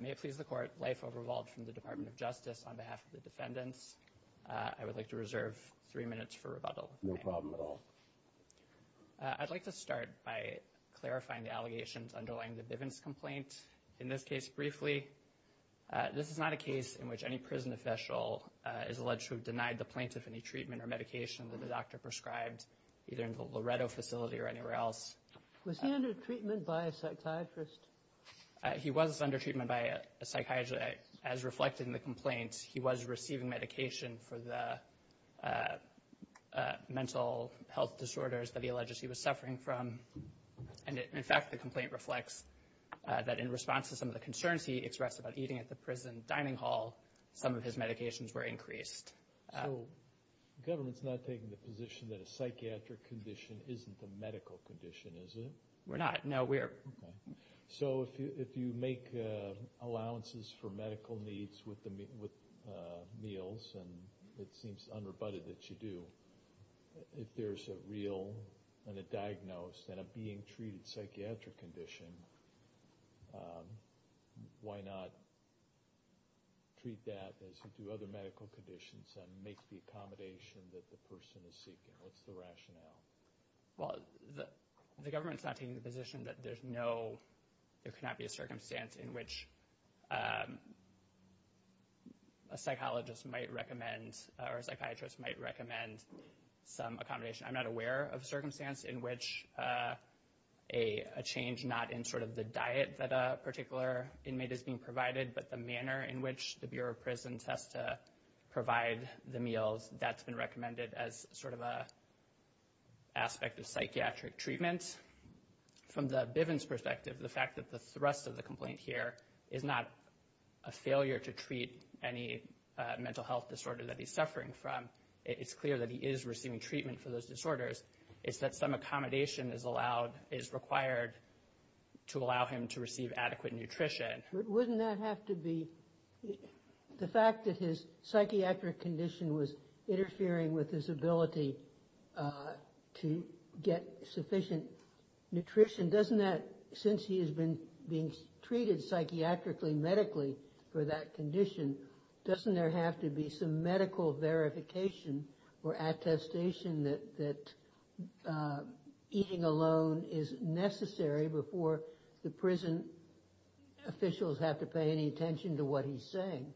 May it please the court, Leif Overvald from the Department of Justice on behalf of the defendants. I would like to reserve three minutes for rebuttal. No problem at all. I'd like to start by clarifying the allegations underlying the Bivens complaint. In this case, briefly, this is not a case in which any prison official is alleged to have denied the plaintiff any treatment or medication that the doctor prescribed, either in the Loretto facility or anywhere else. Was he under treatment by a psychiatrist? He was under treatment by a psychiatrist. As reflected in the complaint, he was receiving medication for the mental health disorders that he alleged he was suffering from. And, in fact, the complaint reflects that in response to some of the concerns he expressed about eating at the prison dining hall, some of his medications were increased. So the government's not taking the position that a psychiatric condition isn't a medical condition, is it? We're not. No, we are. Okay. So if you make allowances for medical needs with meals, and it seems unrebutted that you do, if there's a real and a diagnosed and a being treated psychiatric condition, why not treat that as you do other medical conditions and make the accommodation that the person is seeking? What's the rationale? Well, the government's not taking the position that there's no, there cannot be a circumstance in which a psychologist might recommend or a psychiatrist might recommend some accommodation. I'm not aware of a circumstance in which a change not in sort of the diet that a particular inmate is being provided, but the manner in which the Bureau of Prisons has to provide the meals, that's been recommended as sort of an aspect of psychiatric treatment. From the Bivens' perspective, the fact that the thrust of the complaint here is not a failure to treat any mental health disorder that he's suffering from, it's clear that he is receiving treatment for those disorders. It's that some accommodation is allowed, is required to allow him to receive adequate nutrition. Wouldn't that have to be, the fact that his psychiatric condition was interfering with his ability to get sufficient nutrition, doesn't that, since he has been being treated psychiatrically, medically for that condition, doesn't there have to be some medical verification or attestation that eating alone is necessary before the prison officials have to pay any attention to what he's saying?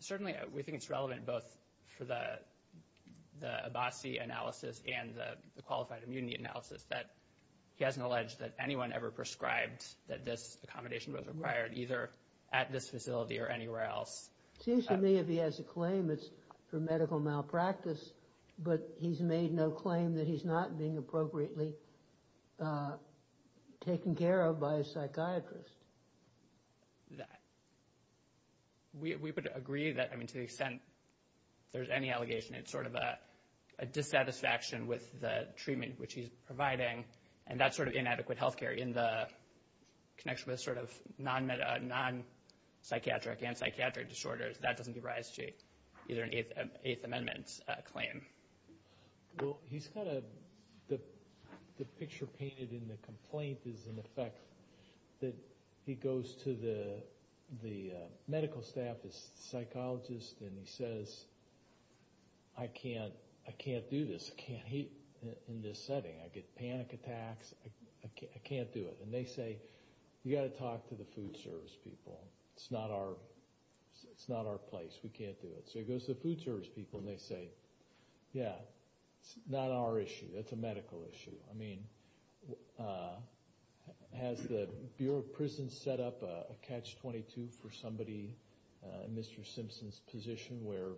Certainly, we think it's relevant both for the Abbasi analysis and the qualified immunity analysis that he hasn't alleged that anyone ever prescribed that this accommodation was required either at this facility or anywhere else. It seems to me if he has a claim it's for medical malpractice, but he's made no claim that he's not being appropriately taken care of by a psychiatrist. We would agree that, I mean, to the extent there's any allegation, it's sort of a dissatisfaction with the treatment which he's providing, and that's sort of inadequate health care in the connection with sort of non-psychiatric and psychiatric disorders. That doesn't give rise to either an Eighth Amendment claim. Well, he's got a – the picture painted in the complaint is in effect that he goes to the medical staff, his psychologist, and he says, I can't do this. I can't eat in this setting. I get panic attacks. I can't do it. And they say, you've got to talk to the food service people. It's not our place. We can't do it. So he goes to the food service people, and they say, yeah, it's not our issue. It's a medical issue. I mean, has the Bureau of Prisons set up a catch-22 for somebody in Mr. Simpson's position where,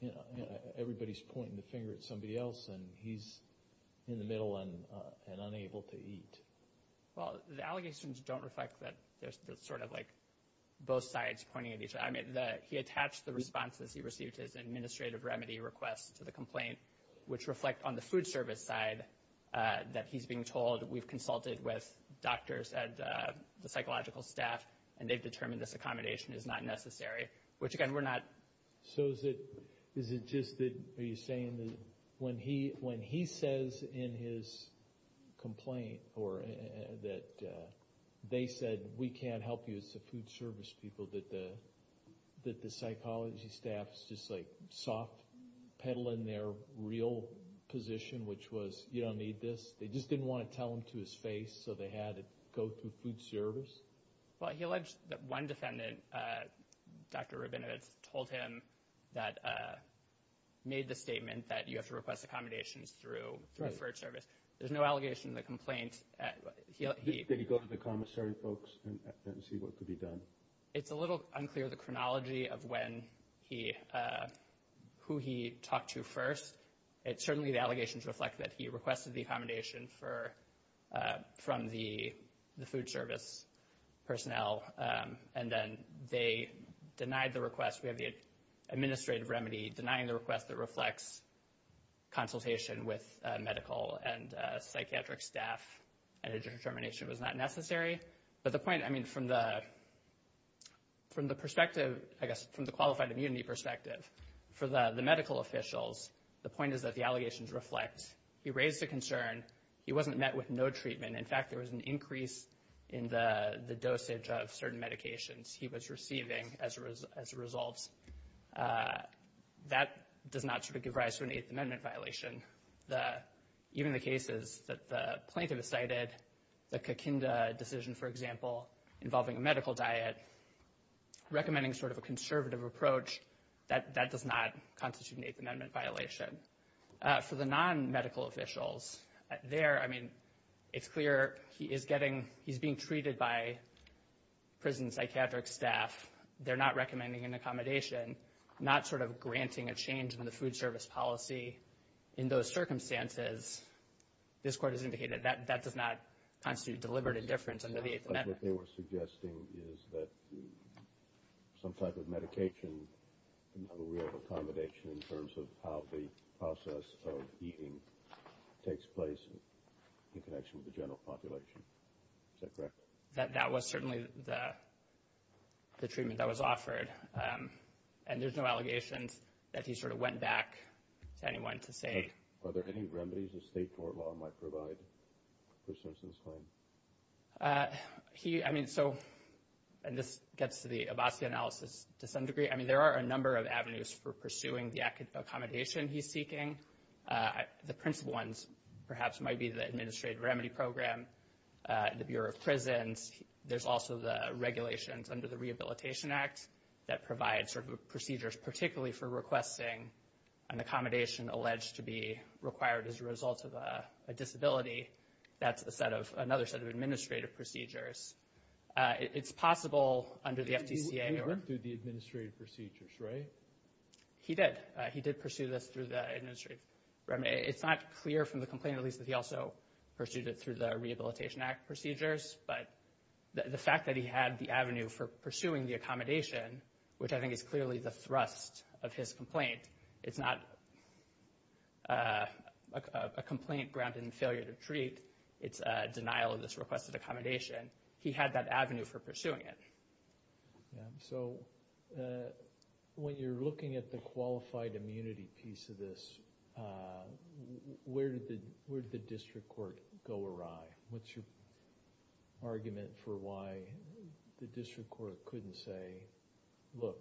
you know, everybody's pointing the finger at somebody else, and he's in the middle and unable to eat? Well, the allegations don't reflect that there's sort of like both sides pointing at each other. I mean, he attached the responses he received as administrative remedy requests to the complaint, which reflect on the food service side that he's being told we've consulted with doctors and the psychological staff, and they've determined this accommodation is not necessary, which, again, we're not. So is it just that he's saying that when he says in his complaint that they said we can't help you, it's the food service people, that the psychology staff is just like soft-pedaling their real position, which was you don't need this? They just didn't want to tell him to his face, so they had it go through food service? Well, he alleged that one defendant, Dr. Rabinovitz, told him that made the statement that you have to request accommodations through food service. There's no allegation in the complaint. Did he go to the commissary folks and see what could be done? It's a little unclear the chronology of who he talked to first. Certainly the allegations reflect that he requested the accommodation from the food service personnel, and then they denied the request. We have the administrative remedy denying the request that reflects consultation with medical and psychiatric staff and a determination it was not necessary. But the point, I mean, from the perspective, I guess, from the qualified immunity perspective, for the medical officials, the point is that the allegations reflect he raised a concern. He wasn't met with no treatment. In fact, there was an increase in the dosage of certain medications he was receiving as a result. That does not give rise to an Eighth Amendment violation. Even the cases that the plaintiff has cited, the Kakinda decision, for example, involving a medical diet, recommending sort of a conservative approach, that does not constitute an Eighth Amendment violation. For the non-medical officials there, I mean, it's clear he is getting he's being treated by prison psychiatric staff. They're not recommending an accommodation, not sort of granting a change in the food service policy. In those circumstances, this Court has indicated that that does not constitute deliberate indifference under the Eighth Amendment. What they were suggesting is that some type of medication can have a real accommodation in terms of how the process of eating takes place in connection with the general population. Is that correct? That was certainly the treatment that was offered. And there's no allegations that he sort of went back to anyone to say. Are there any remedies the state court law might provide for Simpson's claim? He, I mean, so, and this gets to the Abbasi analysis to some degree. I mean, there are a number of avenues for pursuing the accommodation he's seeking. The principal ones perhaps might be the administrative remedy program, the Bureau of Prisons. There's also the regulations under the Rehabilitation Act that provide sort of procedures, particularly for requesting an accommodation alleged to be required as a result of a disability. That's a set of, another set of administrative procedures. It's possible under the FTCA. He went through the administrative procedures, right? He did. He did pursue this through the administrative remedy. It's not clear from the complaint release that he also pursued it through the Rehabilitation Act procedures. But the fact that he had the avenue for pursuing the accommodation, which I think is clearly the thrust of his complaint, it's not a complaint grounded in failure to treat. It's a denial of this requested accommodation. He had that avenue for pursuing it. So when you're looking at the qualified immunity piece of this, where did the district court go awry? What's your argument for why the district court couldn't say, look,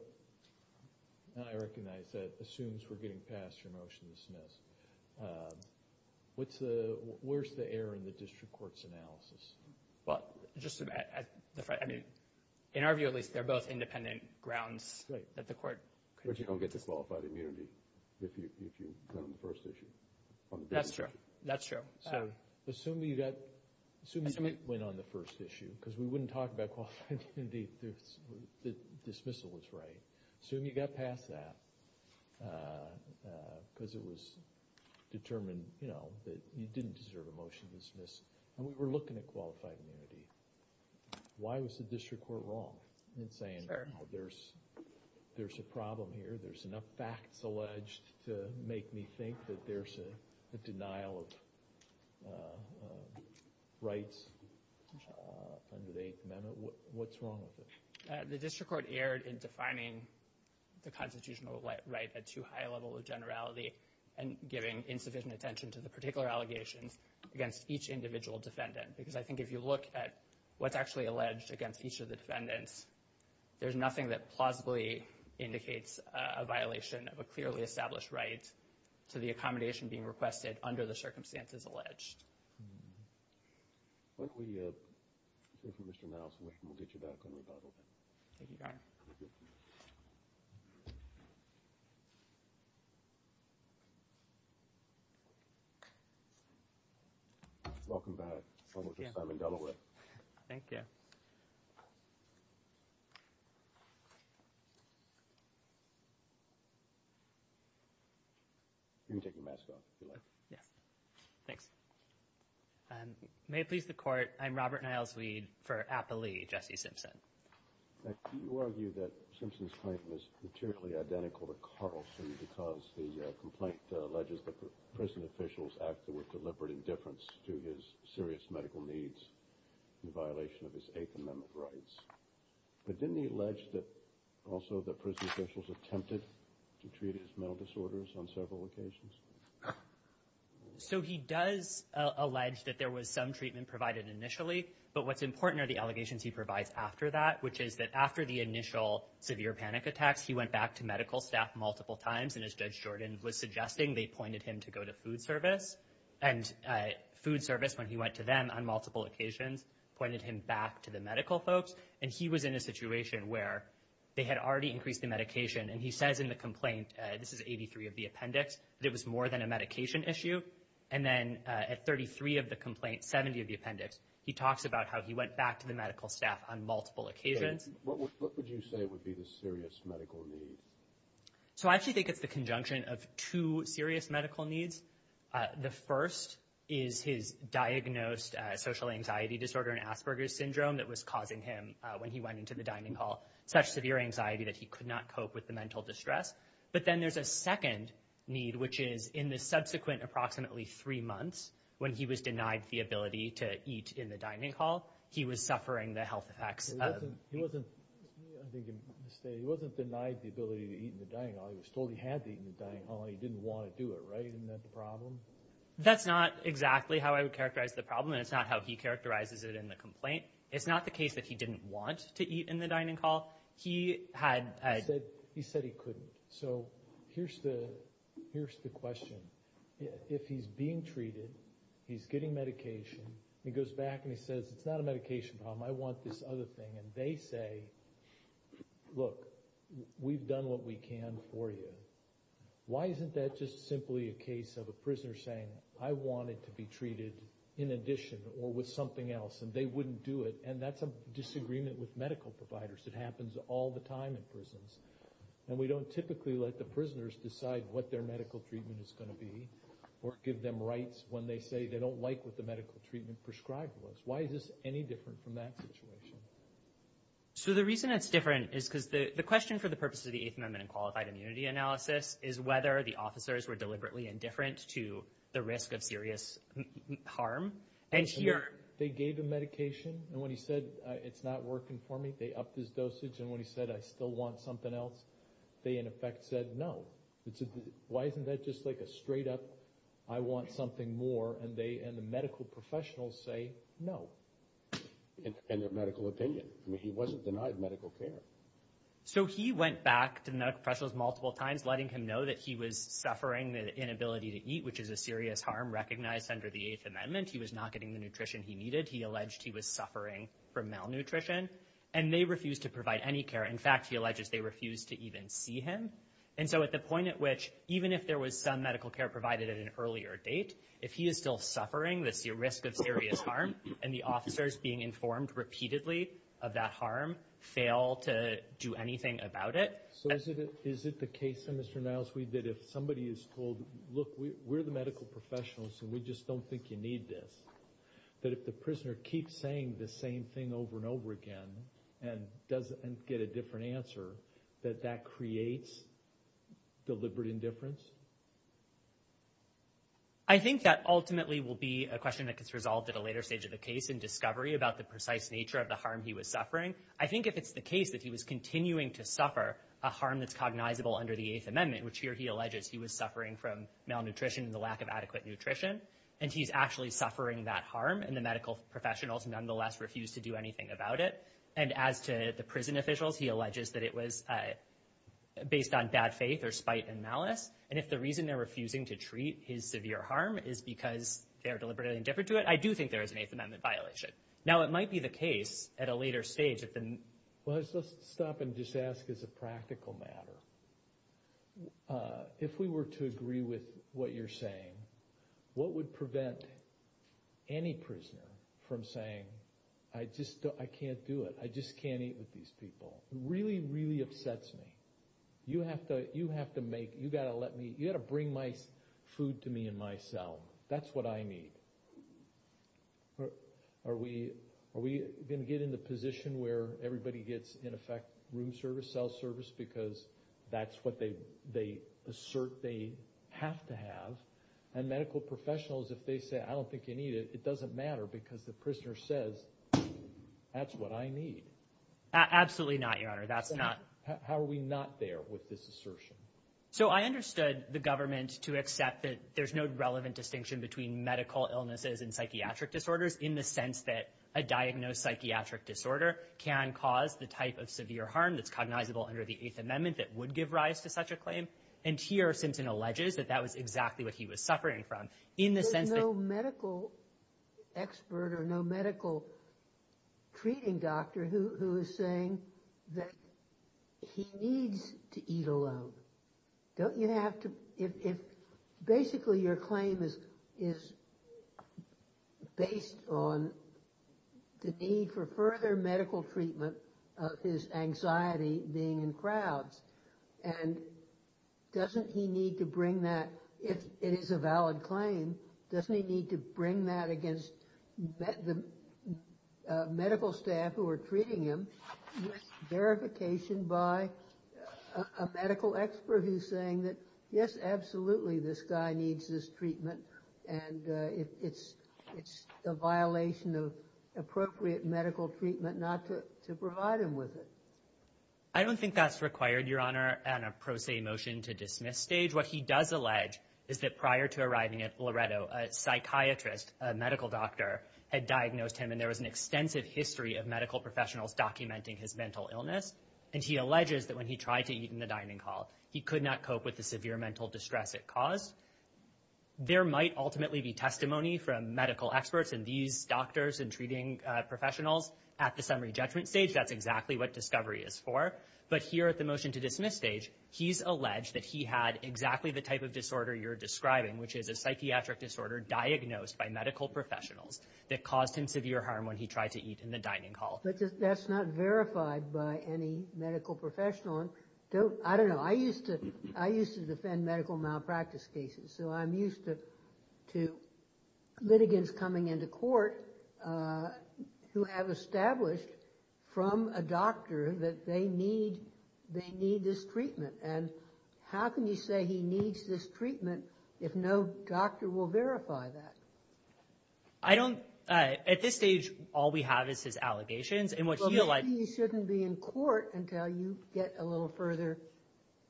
and I recognize that assumes we're getting past your motion to dismiss. What's the, where's the error in the district court's analysis? Well, just the fact, I mean, in our view at least, they're both independent grounds that the court. But you don't get the qualified immunity if you go on the first issue. That's true. That's true. So assume you got, assume you went on the first issue because we wouldn't talk about qualified immunity. The dismissal was right. Assume you got past that because it was determined, you know, that you didn't deserve a motion to dismiss. And we were looking at qualified immunity. Why was the district court wrong in saying there's a problem here? There's enough facts alleged to make me think that there's a denial of rights under the Eighth Amendment. What's wrong with it? The district court erred in defining the constitutional right at too high a level of generality and giving insufficient attention to the particular allegations against each individual defendant. Because I think if you look at what's actually alleged against each of the defendants, there's nothing that plausibly indicates a violation of a clearly established right to the accommodation being requested under the circumstances alleged. Why don't we hear from Mr. Mouse and we'll get you back on rebuttal then. Thank you, Your Honor. Welcome back. Welcome to Simon Delaware. Thank you. You can take your mask off if you like. Yes. Thanks. May it please the Court, I'm Robert Niles-Weed for Appalee. Jesse Simpson. Do you argue that Simpson's claim is materially identical to Carlson because the complaint alleges that prison officials acted with deliberate indifference to his serious medical needs in violation of his Eighth Amendment rights? But didn't he allege that also the prison officials attempted to treat his mental disorders on several occasions? So he does allege that there was some treatment provided initially, but what's important are the allegations he provides after that, which is that after the initial severe panic attacks, he went back to medical staff multiple times, and as Judge Jordan was suggesting, they pointed him to go to food service. And food service, when he went to them on multiple occasions, pointed him back to the medical folks. And he was in a situation where they had already increased the medication, and he says in the complaint, this is 83 of the appendix, that it was more than a medication issue. And then at 33 of the complaint, 70 of the appendix, he talks about how he went back to the medical staff on multiple occasions. What would you say would be the serious medical need? So I actually think it's the conjunction of two serious medical needs. The first is his diagnosed social anxiety disorder and Asperger's syndrome that was causing him, when he went into the dining hall, such severe anxiety that he could not cope with the mental distress. But then there's a second need, which is in the subsequent approximately three months, when he was denied the ability to eat in the dining hall, he was suffering the health effects. He wasn't denied the ability to eat in the dining hall. He was told he had to eat in the dining hall, and he didn't want to do it, right? Isn't that the problem? That's not exactly how I would characterize the problem, and it's not how he characterizes it in the complaint. It's not the case that he didn't want to eat in the dining hall. He said he couldn't. So here's the question. If he's being treated, he's getting medication, he goes back and he says, it's not a medication problem, I want this other thing. And they say, look, we've done what we can for you. Why isn't that just simply a case of a prisoner saying, I want it to be treated in addition or with something else, and they wouldn't do it? And that's a disagreement with medical providers. It happens all the time in prisons. And we don't typically let the prisoners decide what their medical treatment is going to be or give them rights when they say they don't like what the medical treatment prescribed was. Why is this any different from that situation? So the reason it's different is because the question for the purpose of the Eighth Amendment and Qualified Immunity Analysis is whether the officers were deliberately indifferent to the risk of serious harm. And here they gave him medication, and when he said, it's not working for me, they upped his dosage. And when he said, I still want something else, they, in effect, said no. Why isn't that just like a straight up, I want something more, and the medical professionals say no? And their medical opinion. I mean, he wasn't denied medical care. So he went back to the medical professionals multiple times, letting him know that he was suffering the inability to eat, which is a serious harm recognized under the Eighth Amendment. He was not getting the nutrition he needed. He alleged he was suffering from malnutrition, and they refused to provide any care. In fact, he alleges they refused to even see him. And so at the point at which, even if there was some medical care provided at an earlier date, if he is still suffering the risk of serious harm, and the officers being informed repeatedly of that harm fail to do anything about it. So is it the case, then, Mr. Nilesweed, that if somebody is told, look, we're the medical professionals, and we just don't think you need this, that if the prisoner keeps saying the same thing over and over again and doesn't get a different answer, that that creates deliberate indifference? I think that ultimately will be a question that gets resolved at a later stage of the case in discovery about the precise nature of the harm he was suffering. I think if it's the case that he was continuing to suffer a harm that's cognizable under the Eighth Amendment, which here he alleges he was suffering from malnutrition and the lack of adequate nutrition, and he's actually suffering that harm, and the medical professionals nonetheless refuse to do anything about it. And as to the prison officials, he alleges that it was based on bad faith or spite and malice. And if the reason they're refusing to treat his severe harm is because they're deliberately indifferent to it, I do think there is an Eighth Amendment violation. Now, it might be the case at a later stage that the— Well, let's stop and just ask as a practical matter. If we were to agree with what you're saying, what would prevent any prisoner from saying, I just can't do it, I just can't eat with these people? It really, really upsets me. You have to make—you've got to let me—you've got to bring my food to me in my cell. That's what I need. Are we going to get in the position where everybody gets, in effect, room service, cell service, because that's what they assert they have to have? And medical professionals, if they say, I don't think you need it, it doesn't matter, because the prisoner says, that's what I need. Absolutely not, Your Honor. That's not— How are we not there with this assertion? So I understood the government to accept that there's no relevant distinction between medical illnesses and psychiatric disorders, in the sense that a diagnosed psychiatric disorder can cause the type of severe harm that's cognizable under the Eighth Amendment that would give rise to such a claim. And here Simpson alleges that that was exactly what he was suffering from, in the sense that— There's no expert or no medical treating doctor who is saying that he needs to eat alone. Don't you have to—if basically your claim is based on the need for further medical treatment of his anxiety being in crowds, and doesn't he need to bring that, if it is a valid claim, doesn't he need to bring that against the medical staff who are treating him, with verification by a medical expert who's saying that, yes, absolutely, this guy needs this treatment, and it's a violation of appropriate medical treatment not to provide him with it. I don't think that's required, Your Honor, on a pro se motion to dismiss stage. What he does allege is that prior to arriving at Loretto, a psychiatrist, a medical doctor, had diagnosed him, and there was an extensive history of medical professionals documenting his mental illness. And he alleges that when he tried to eat in the dining hall, he could not cope with the severe mental distress it caused. There might ultimately be testimony from medical experts and these doctors and treating professionals at the summary judgment stage. That's exactly what discovery is for. But here at the motion to dismiss stage, he's alleged that he had exactly the type of disorder you're describing, which is a psychiatric disorder diagnosed by medical professionals that caused him severe harm when he tried to eat in the dining hall. But that's not verified by any medical professional. I don't know. I used to defend medical malpractice cases, so I'm used to litigants coming into court who have established from a doctor that they need this treatment. And how can you say he needs this treatment if no doctor will verify that? At this stage, all we have is his allegations. He shouldn't be in court until you get a little further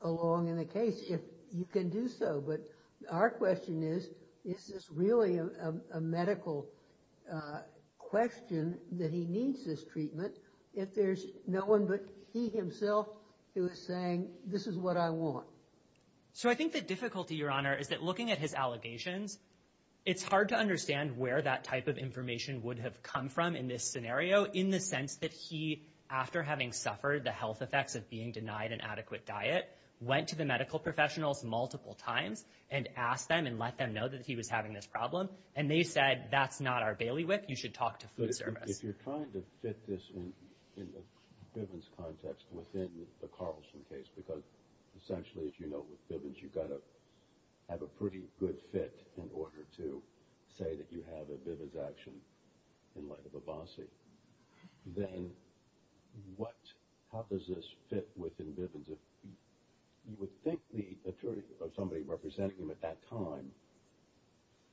along in the case, if you can do so. But our question is, is this really a medical question that he needs this treatment if there's no one but he himself who is saying, this is what I want? So I think the difficulty, Your Honor, is that looking at his allegations, it's hard to understand where that type of information would have come from in this scenario in the sense that he, after having suffered the health effects of being denied an adequate diet, went to the medical professionals multiple times and asked them and let them know that he was having this problem. And they said, that's not our bailiwick. You should talk to food service. But if you're trying to fit this in the Bivens context within the Carlson case, because essentially, as you know, with Bivens, you've got to have a pretty good fit in order to say that you have a Bivens action in light of a bossy, then how does this fit within Bivens? You would think the attorney or somebody representing him at that time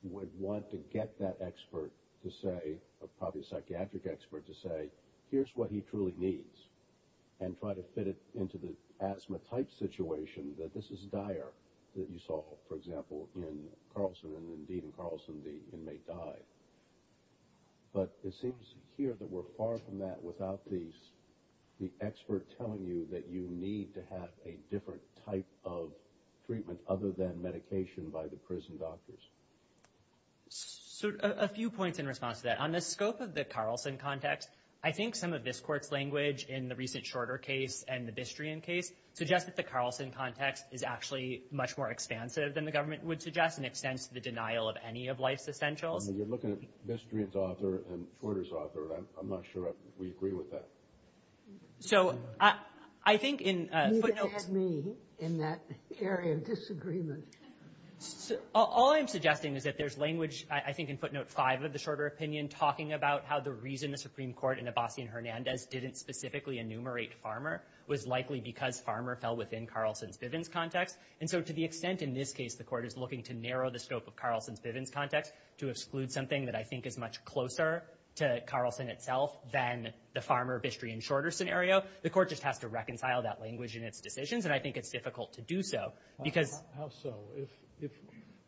would want to get that expert to say, or probably a psychiatric expert to say, here's what he truly needs and try to fit it into the asthma-type situation that this is dire that you saw, for example, in Carlson. And indeed, in Carlson, the inmate died. But it seems here that we're far from that without the expert telling you that you need to have a different type of treatment other than medication by the prison doctors. So a few points in response to that. On the scope of the Carlson context, I think some of this court's language in the recent Shorter case and the Bistrian case suggests that the Carlson context is actually much more expansive than the government would suggest and extends to the denial of any of life's essentials. You're looking at Bistrian's author and Shorter's author. I'm not sure we agree with that. So I think in footnotes... You can add me in that area of disagreement. All I'm suggesting is that there's language, I think, in footnote 5 of the Shorter opinion talking about how the reason the Supreme Court in Abbasi and Hernandez didn't specifically enumerate Farmer was likely because Farmer fell within Carlson's Bivens context. And so to the extent in this case the court is looking to narrow the scope of Carlson's Bivens context to exclude something that I think is much closer to Carlson itself than the Farmer, Bistrian, Shorter scenario, the court just has to reconcile that language in its decisions, and I think it's difficult to do so because... How so? If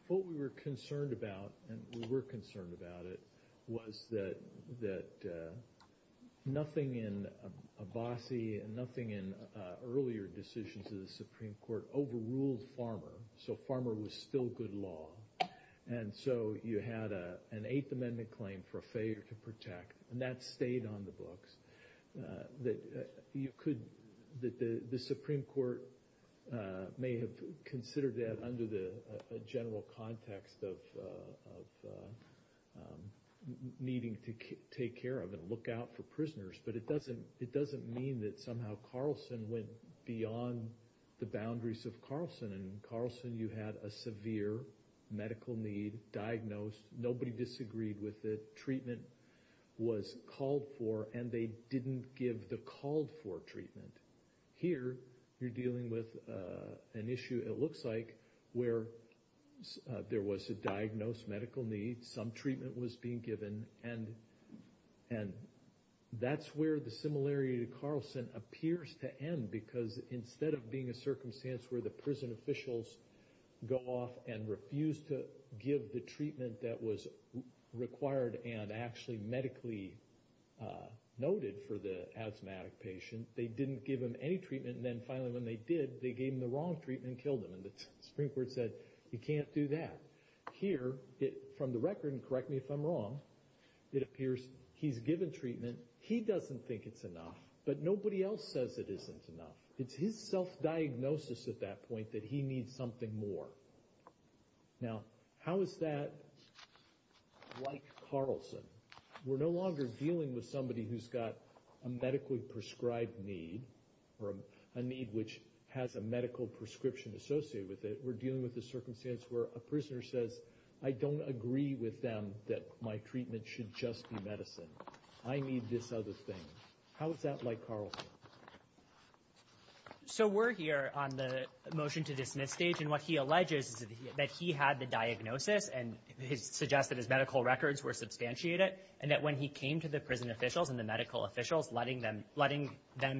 what we were concerned about, and we were concerned about it, was that nothing in Abbasi and nothing in earlier decisions of the Supreme Court overruled Farmer, so Farmer was still good law. And so you had an Eighth Amendment claim for a failure to protect, and that stayed on the books. You could... The Supreme Court may have considered that under the general context of needing to take care of and look out for prisoners, but it doesn't mean that somehow Carlson went beyond the boundaries of Carlson. In Carlson you had a severe medical need diagnosed. Nobody disagreed with it. Treatment was called for, and they didn't give the called-for treatment. Here you're dealing with an issue, it looks like, where there was a diagnosed medical need, some treatment was being given, and that's where the similarity to Carlson appears to end, because instead of being a circumstance where the prison officials go off and refuse to give the treatment that was required and actually medically noted for the asthmatic patient, they didn't give him any treatment, and then finally when they did, they gave him the wrong treatment and killed him. And the Supreme Court said, you can't do that. Here, from the record, and correct me if I'm wrong, it appears he's given treatment, he doesn't think it's enough, but nobody else says it isn't enough. It's his self-diagnosis at that point that he needs something more. Now, how is that like Carlson? We're no longer dealing with somebody who's got a medically prescribed need, or a need which has a medical prescription associated with it. We're dealing with a circumstance where a prisoner says, I don't agree with them that my treatment should just be medicine. I need this other thing. How is that like Carlson? So we're here on the motion to dismiss stage, and what he alleges is that he had the diagnosis and suggests that his medical records were substantiated, and that when he came to the prison officials and the medical officials, letting them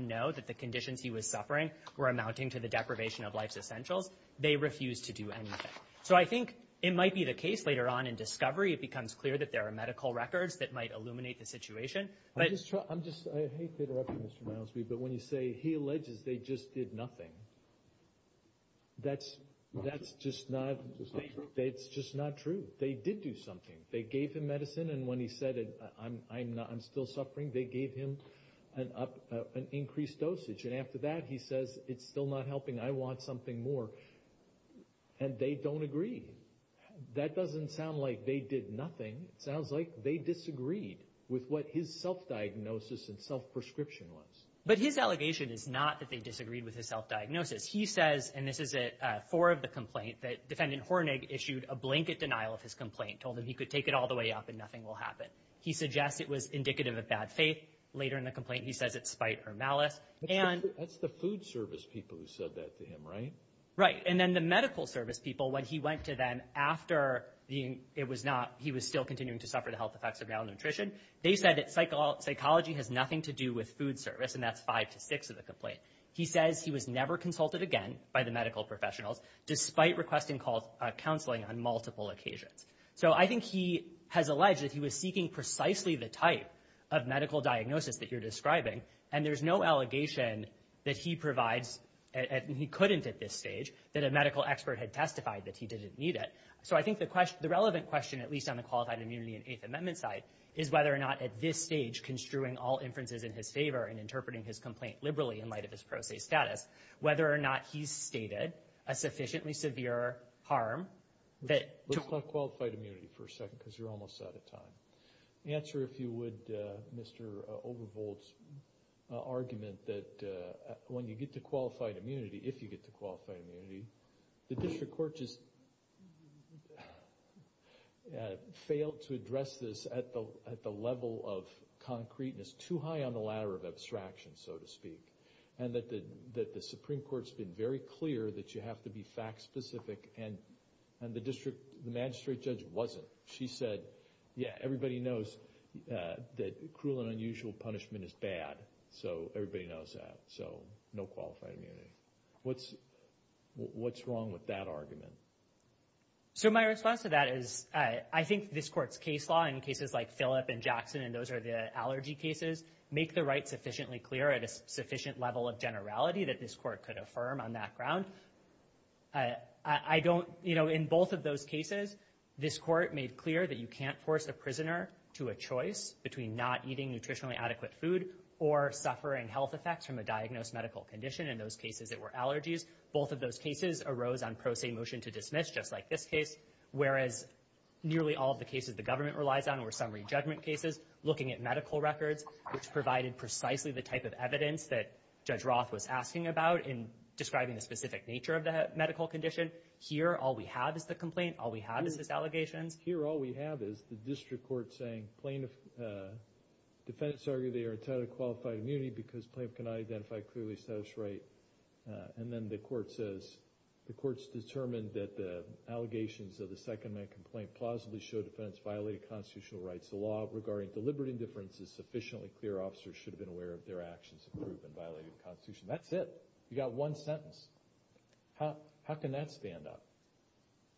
know that the conditions he was suffering were amounting to the deprivation of life's essentials, they refused to do anything. So I think it might be the case later on in discovery, it becomes clear that there are medical records that might illuminate the situation. I hate to interrupt you, Mr. Milesby, but when you say he alleges they just did nothing, that's just not true. They did do something. They gave him medicine, and when he said, I'm still suffering, they gave him an increased dosage. And after that, he says, it's still not helping. I want something more. And they don't agree. That doesn't sound like they did nothing. It sounds like they disagreed with what his self-diagnosis and self-prescription was. But his allegation is not that they disagreed with his self-diagnosis. He says, and this is at 4 of the complaint, that Defendant Hornig issued a blanket denial of his complaint, told him he could take it all the way up and nothing will happen. He suggests it was indicative of bad faith. Later in the complaint, he says it's spite or malice. That's the food service people who said that to him, right? Right. And then the medical service people, when he went to them after it was not, he was still continuing to suffer the health effects of malnutrition, they said that psychology has nothing to do with food service, and that's 5 to 6 of the complaint. He says he was never consulted again by the medical professionals, despite requesting counseling on multiple occasions. So I think he has alleged that he was seeking precisely the type of medical diagnosis that you're describing, and there's no allegation that he provides, and he couldn't at this stage, that a medical expert had testified that he didn't need it. So I think the relevant question, at least on the qualified immunity and Eighth Amendment side, is whether or not at this stage, construing all inferences in his favor and interpreting his complaint liberally in light of his pro se status, whether or not he's stated a sufficiently severe harm. Looks like qualified immunity for a second because you're almost out of time. Answer, if you would, Mr. Overvold's argument that when you get to qualified immunity, if you get to qualified immunity, the district court just failed to address this at the level of concreteness, too high on the ladder of abstraction, so to speak, and that the Supreme Court's been very clear that you have to be fact specific, and the magistrate judge wasn't. She said, yeah, everybody knows that cruel and unusual punishment is bad, so everybody knows that, so no qualified immunity. What's wrong with that argument? So my response to that is I think this court's case law, in cases like Phillip and Jackson, and those are the allergy cases, make the right sufficiently clear at a sufficient level of generality that this court could affirm on that ground. I don't, you know, in both of those cases, this court made clear that you can't force a prisoner to a choice between not eating nutritionally adequate food or suffering health effects from a diagnosed medical condition. In those cases, it were allergies. Both of those cases arose on pro se motion to dismiss, just like this case, whereas nearly all of the cases the government relies on were summary judgment cases, looking at medical records, which provided precisely the type of evidence that Judge Roth was asking about in describing the specific nature of the medical condition. Here, all we have is the complaint. All we have is his allegations. Here, all we have is the district court saying plaintiff, defendants argue they are entitled to qualified immunity because plaintiff cannot identify clearly a status right, and then the court says the court's determined that the allegations of the second-man complaint plausibly show defendants violated constitutional rights. The law regarding deliberate indifference is sufficiently clear. Our officers should have been aware of their actions to prove and violate the Constitution. That's it. You got one sentence. How can that stand up?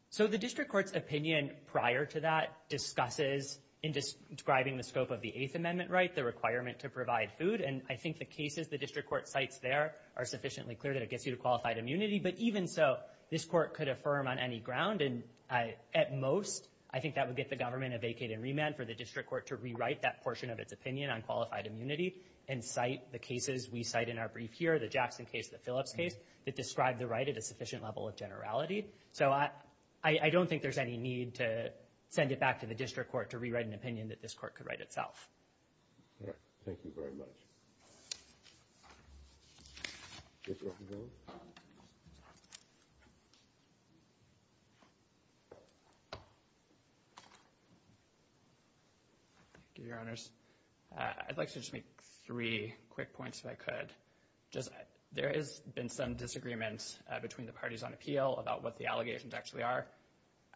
So the district court's opinion prior to that discusses, in describing the scope of the Eighth Amendment right, the requirement to provide food, and I think the cases the district court cites there are sufficiently clear that it gets you to qualified immunity, but even so, this court could affirm on any ground, and at most, I think that would get the government a vacate and remand for the district court to rewrite that portion of its opinion on qualified immunity and cite the cases we cite in our brief here, the Jackson case, the Phillips case, that describe the right at a sufficient level of generality. So I don't think there's any need to send it back to the district court to rewrite an opinion that this court could write itself. Thank you very much. Thank you, Your Honors. I'd like to just make three quick points, if I could. There has been some disagreement between the parties on appeal about what the allegations actually are.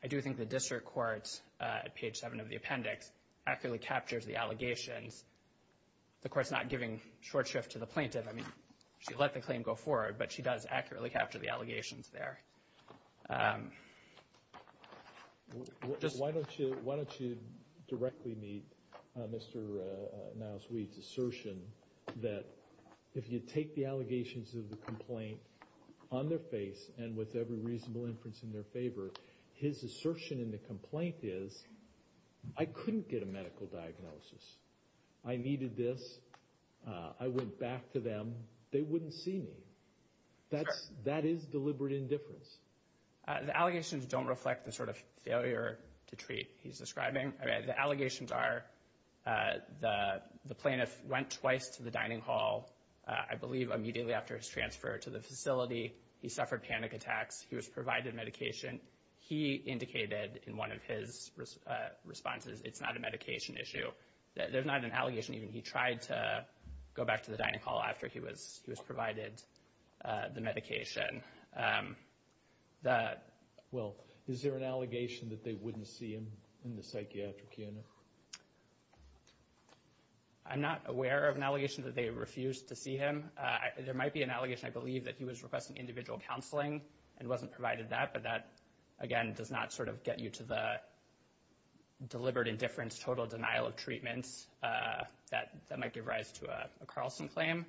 I do think the district court, at page 7 of the appendix, accurately captures the allegations. The court's not giving short shift to the plaintiff. I mean, she let the claim go forward, but she does accurately capture the allegations there. Why don't you directly meet Mr. Niles-Weed's assertion that if you take the allegations of the complaint on their face and with every reasonable inference in their favor, his assertion in the complaint is, I couldn't get a medical diagnosis. I needed this. I went back to them. They wouldn't see me. That is deliberate indifference. The allegations don't reflect the sort of failure to treat he's describing. The allegations are the plaintiff went twice to the dining hall, I believe immediately after his transfer to the facility. He suffered panic attacks. He was provided medication. He indicated in one of his responses it's not a medication issue. There's not an allegation even he tried to go back to the dining hall after he was provided the medication. Well, is there an allegation that they wouldn't see him in the psychiatric unit? I'm not aware of an allegation that they refused to see him. There might be an allegation, I believe, that he was requesting individual counseling and wasn't provided that, but that, again, does not sort of get you to the deliberate indifference, total denial of treatments that might give rise to a Carlson claim.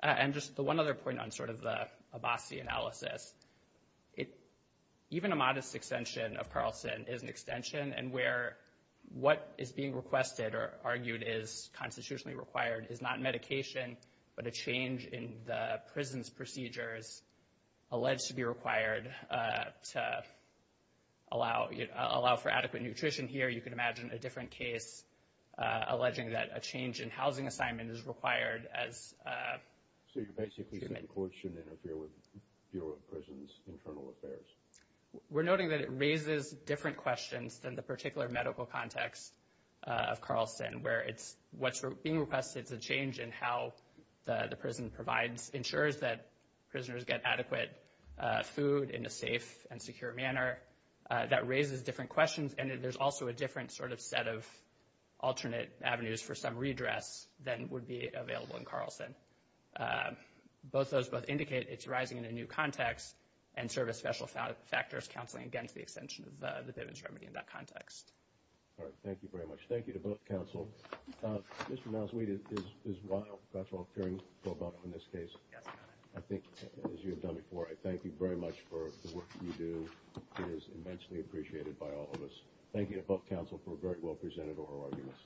And just the one other point on sort of the Abbasi analysis, even a modest extension of Carlson is an extension, and where what is being requested or argued is constitutionally required is not medication, but a change in the prison's procedures alleged to be required to allow for adequate nutrition. Here you can imagine a different case alleging that a change in housing assignment is required as treatment. So you're basically saying courts shouldn't interfere with Bureau of Prisons' internal affairs? We're noting that it raises different questions than the particular medical context of Carlson, where it's what's being requested is a change in how the prison provides, ensures that prisoners get adequate food in a safe and secure manner. That raises different questions, and there's also a different sort of set of alternate avenues for some redress than would be available in Carlson. Both those both indicate it's rising in a new context and serve as special factors counseling against the extension of the Bivens remedy in that context. All right, thank you very much. Thank you to both counsel. Mr. Malswede, it is wild. That's what I'm hearing about in this case. I think, as you have done before, I thank you very much for the work that you do. It is immensely appreciated by all of us. Thank you to both counsel for a very well-presented oral argument.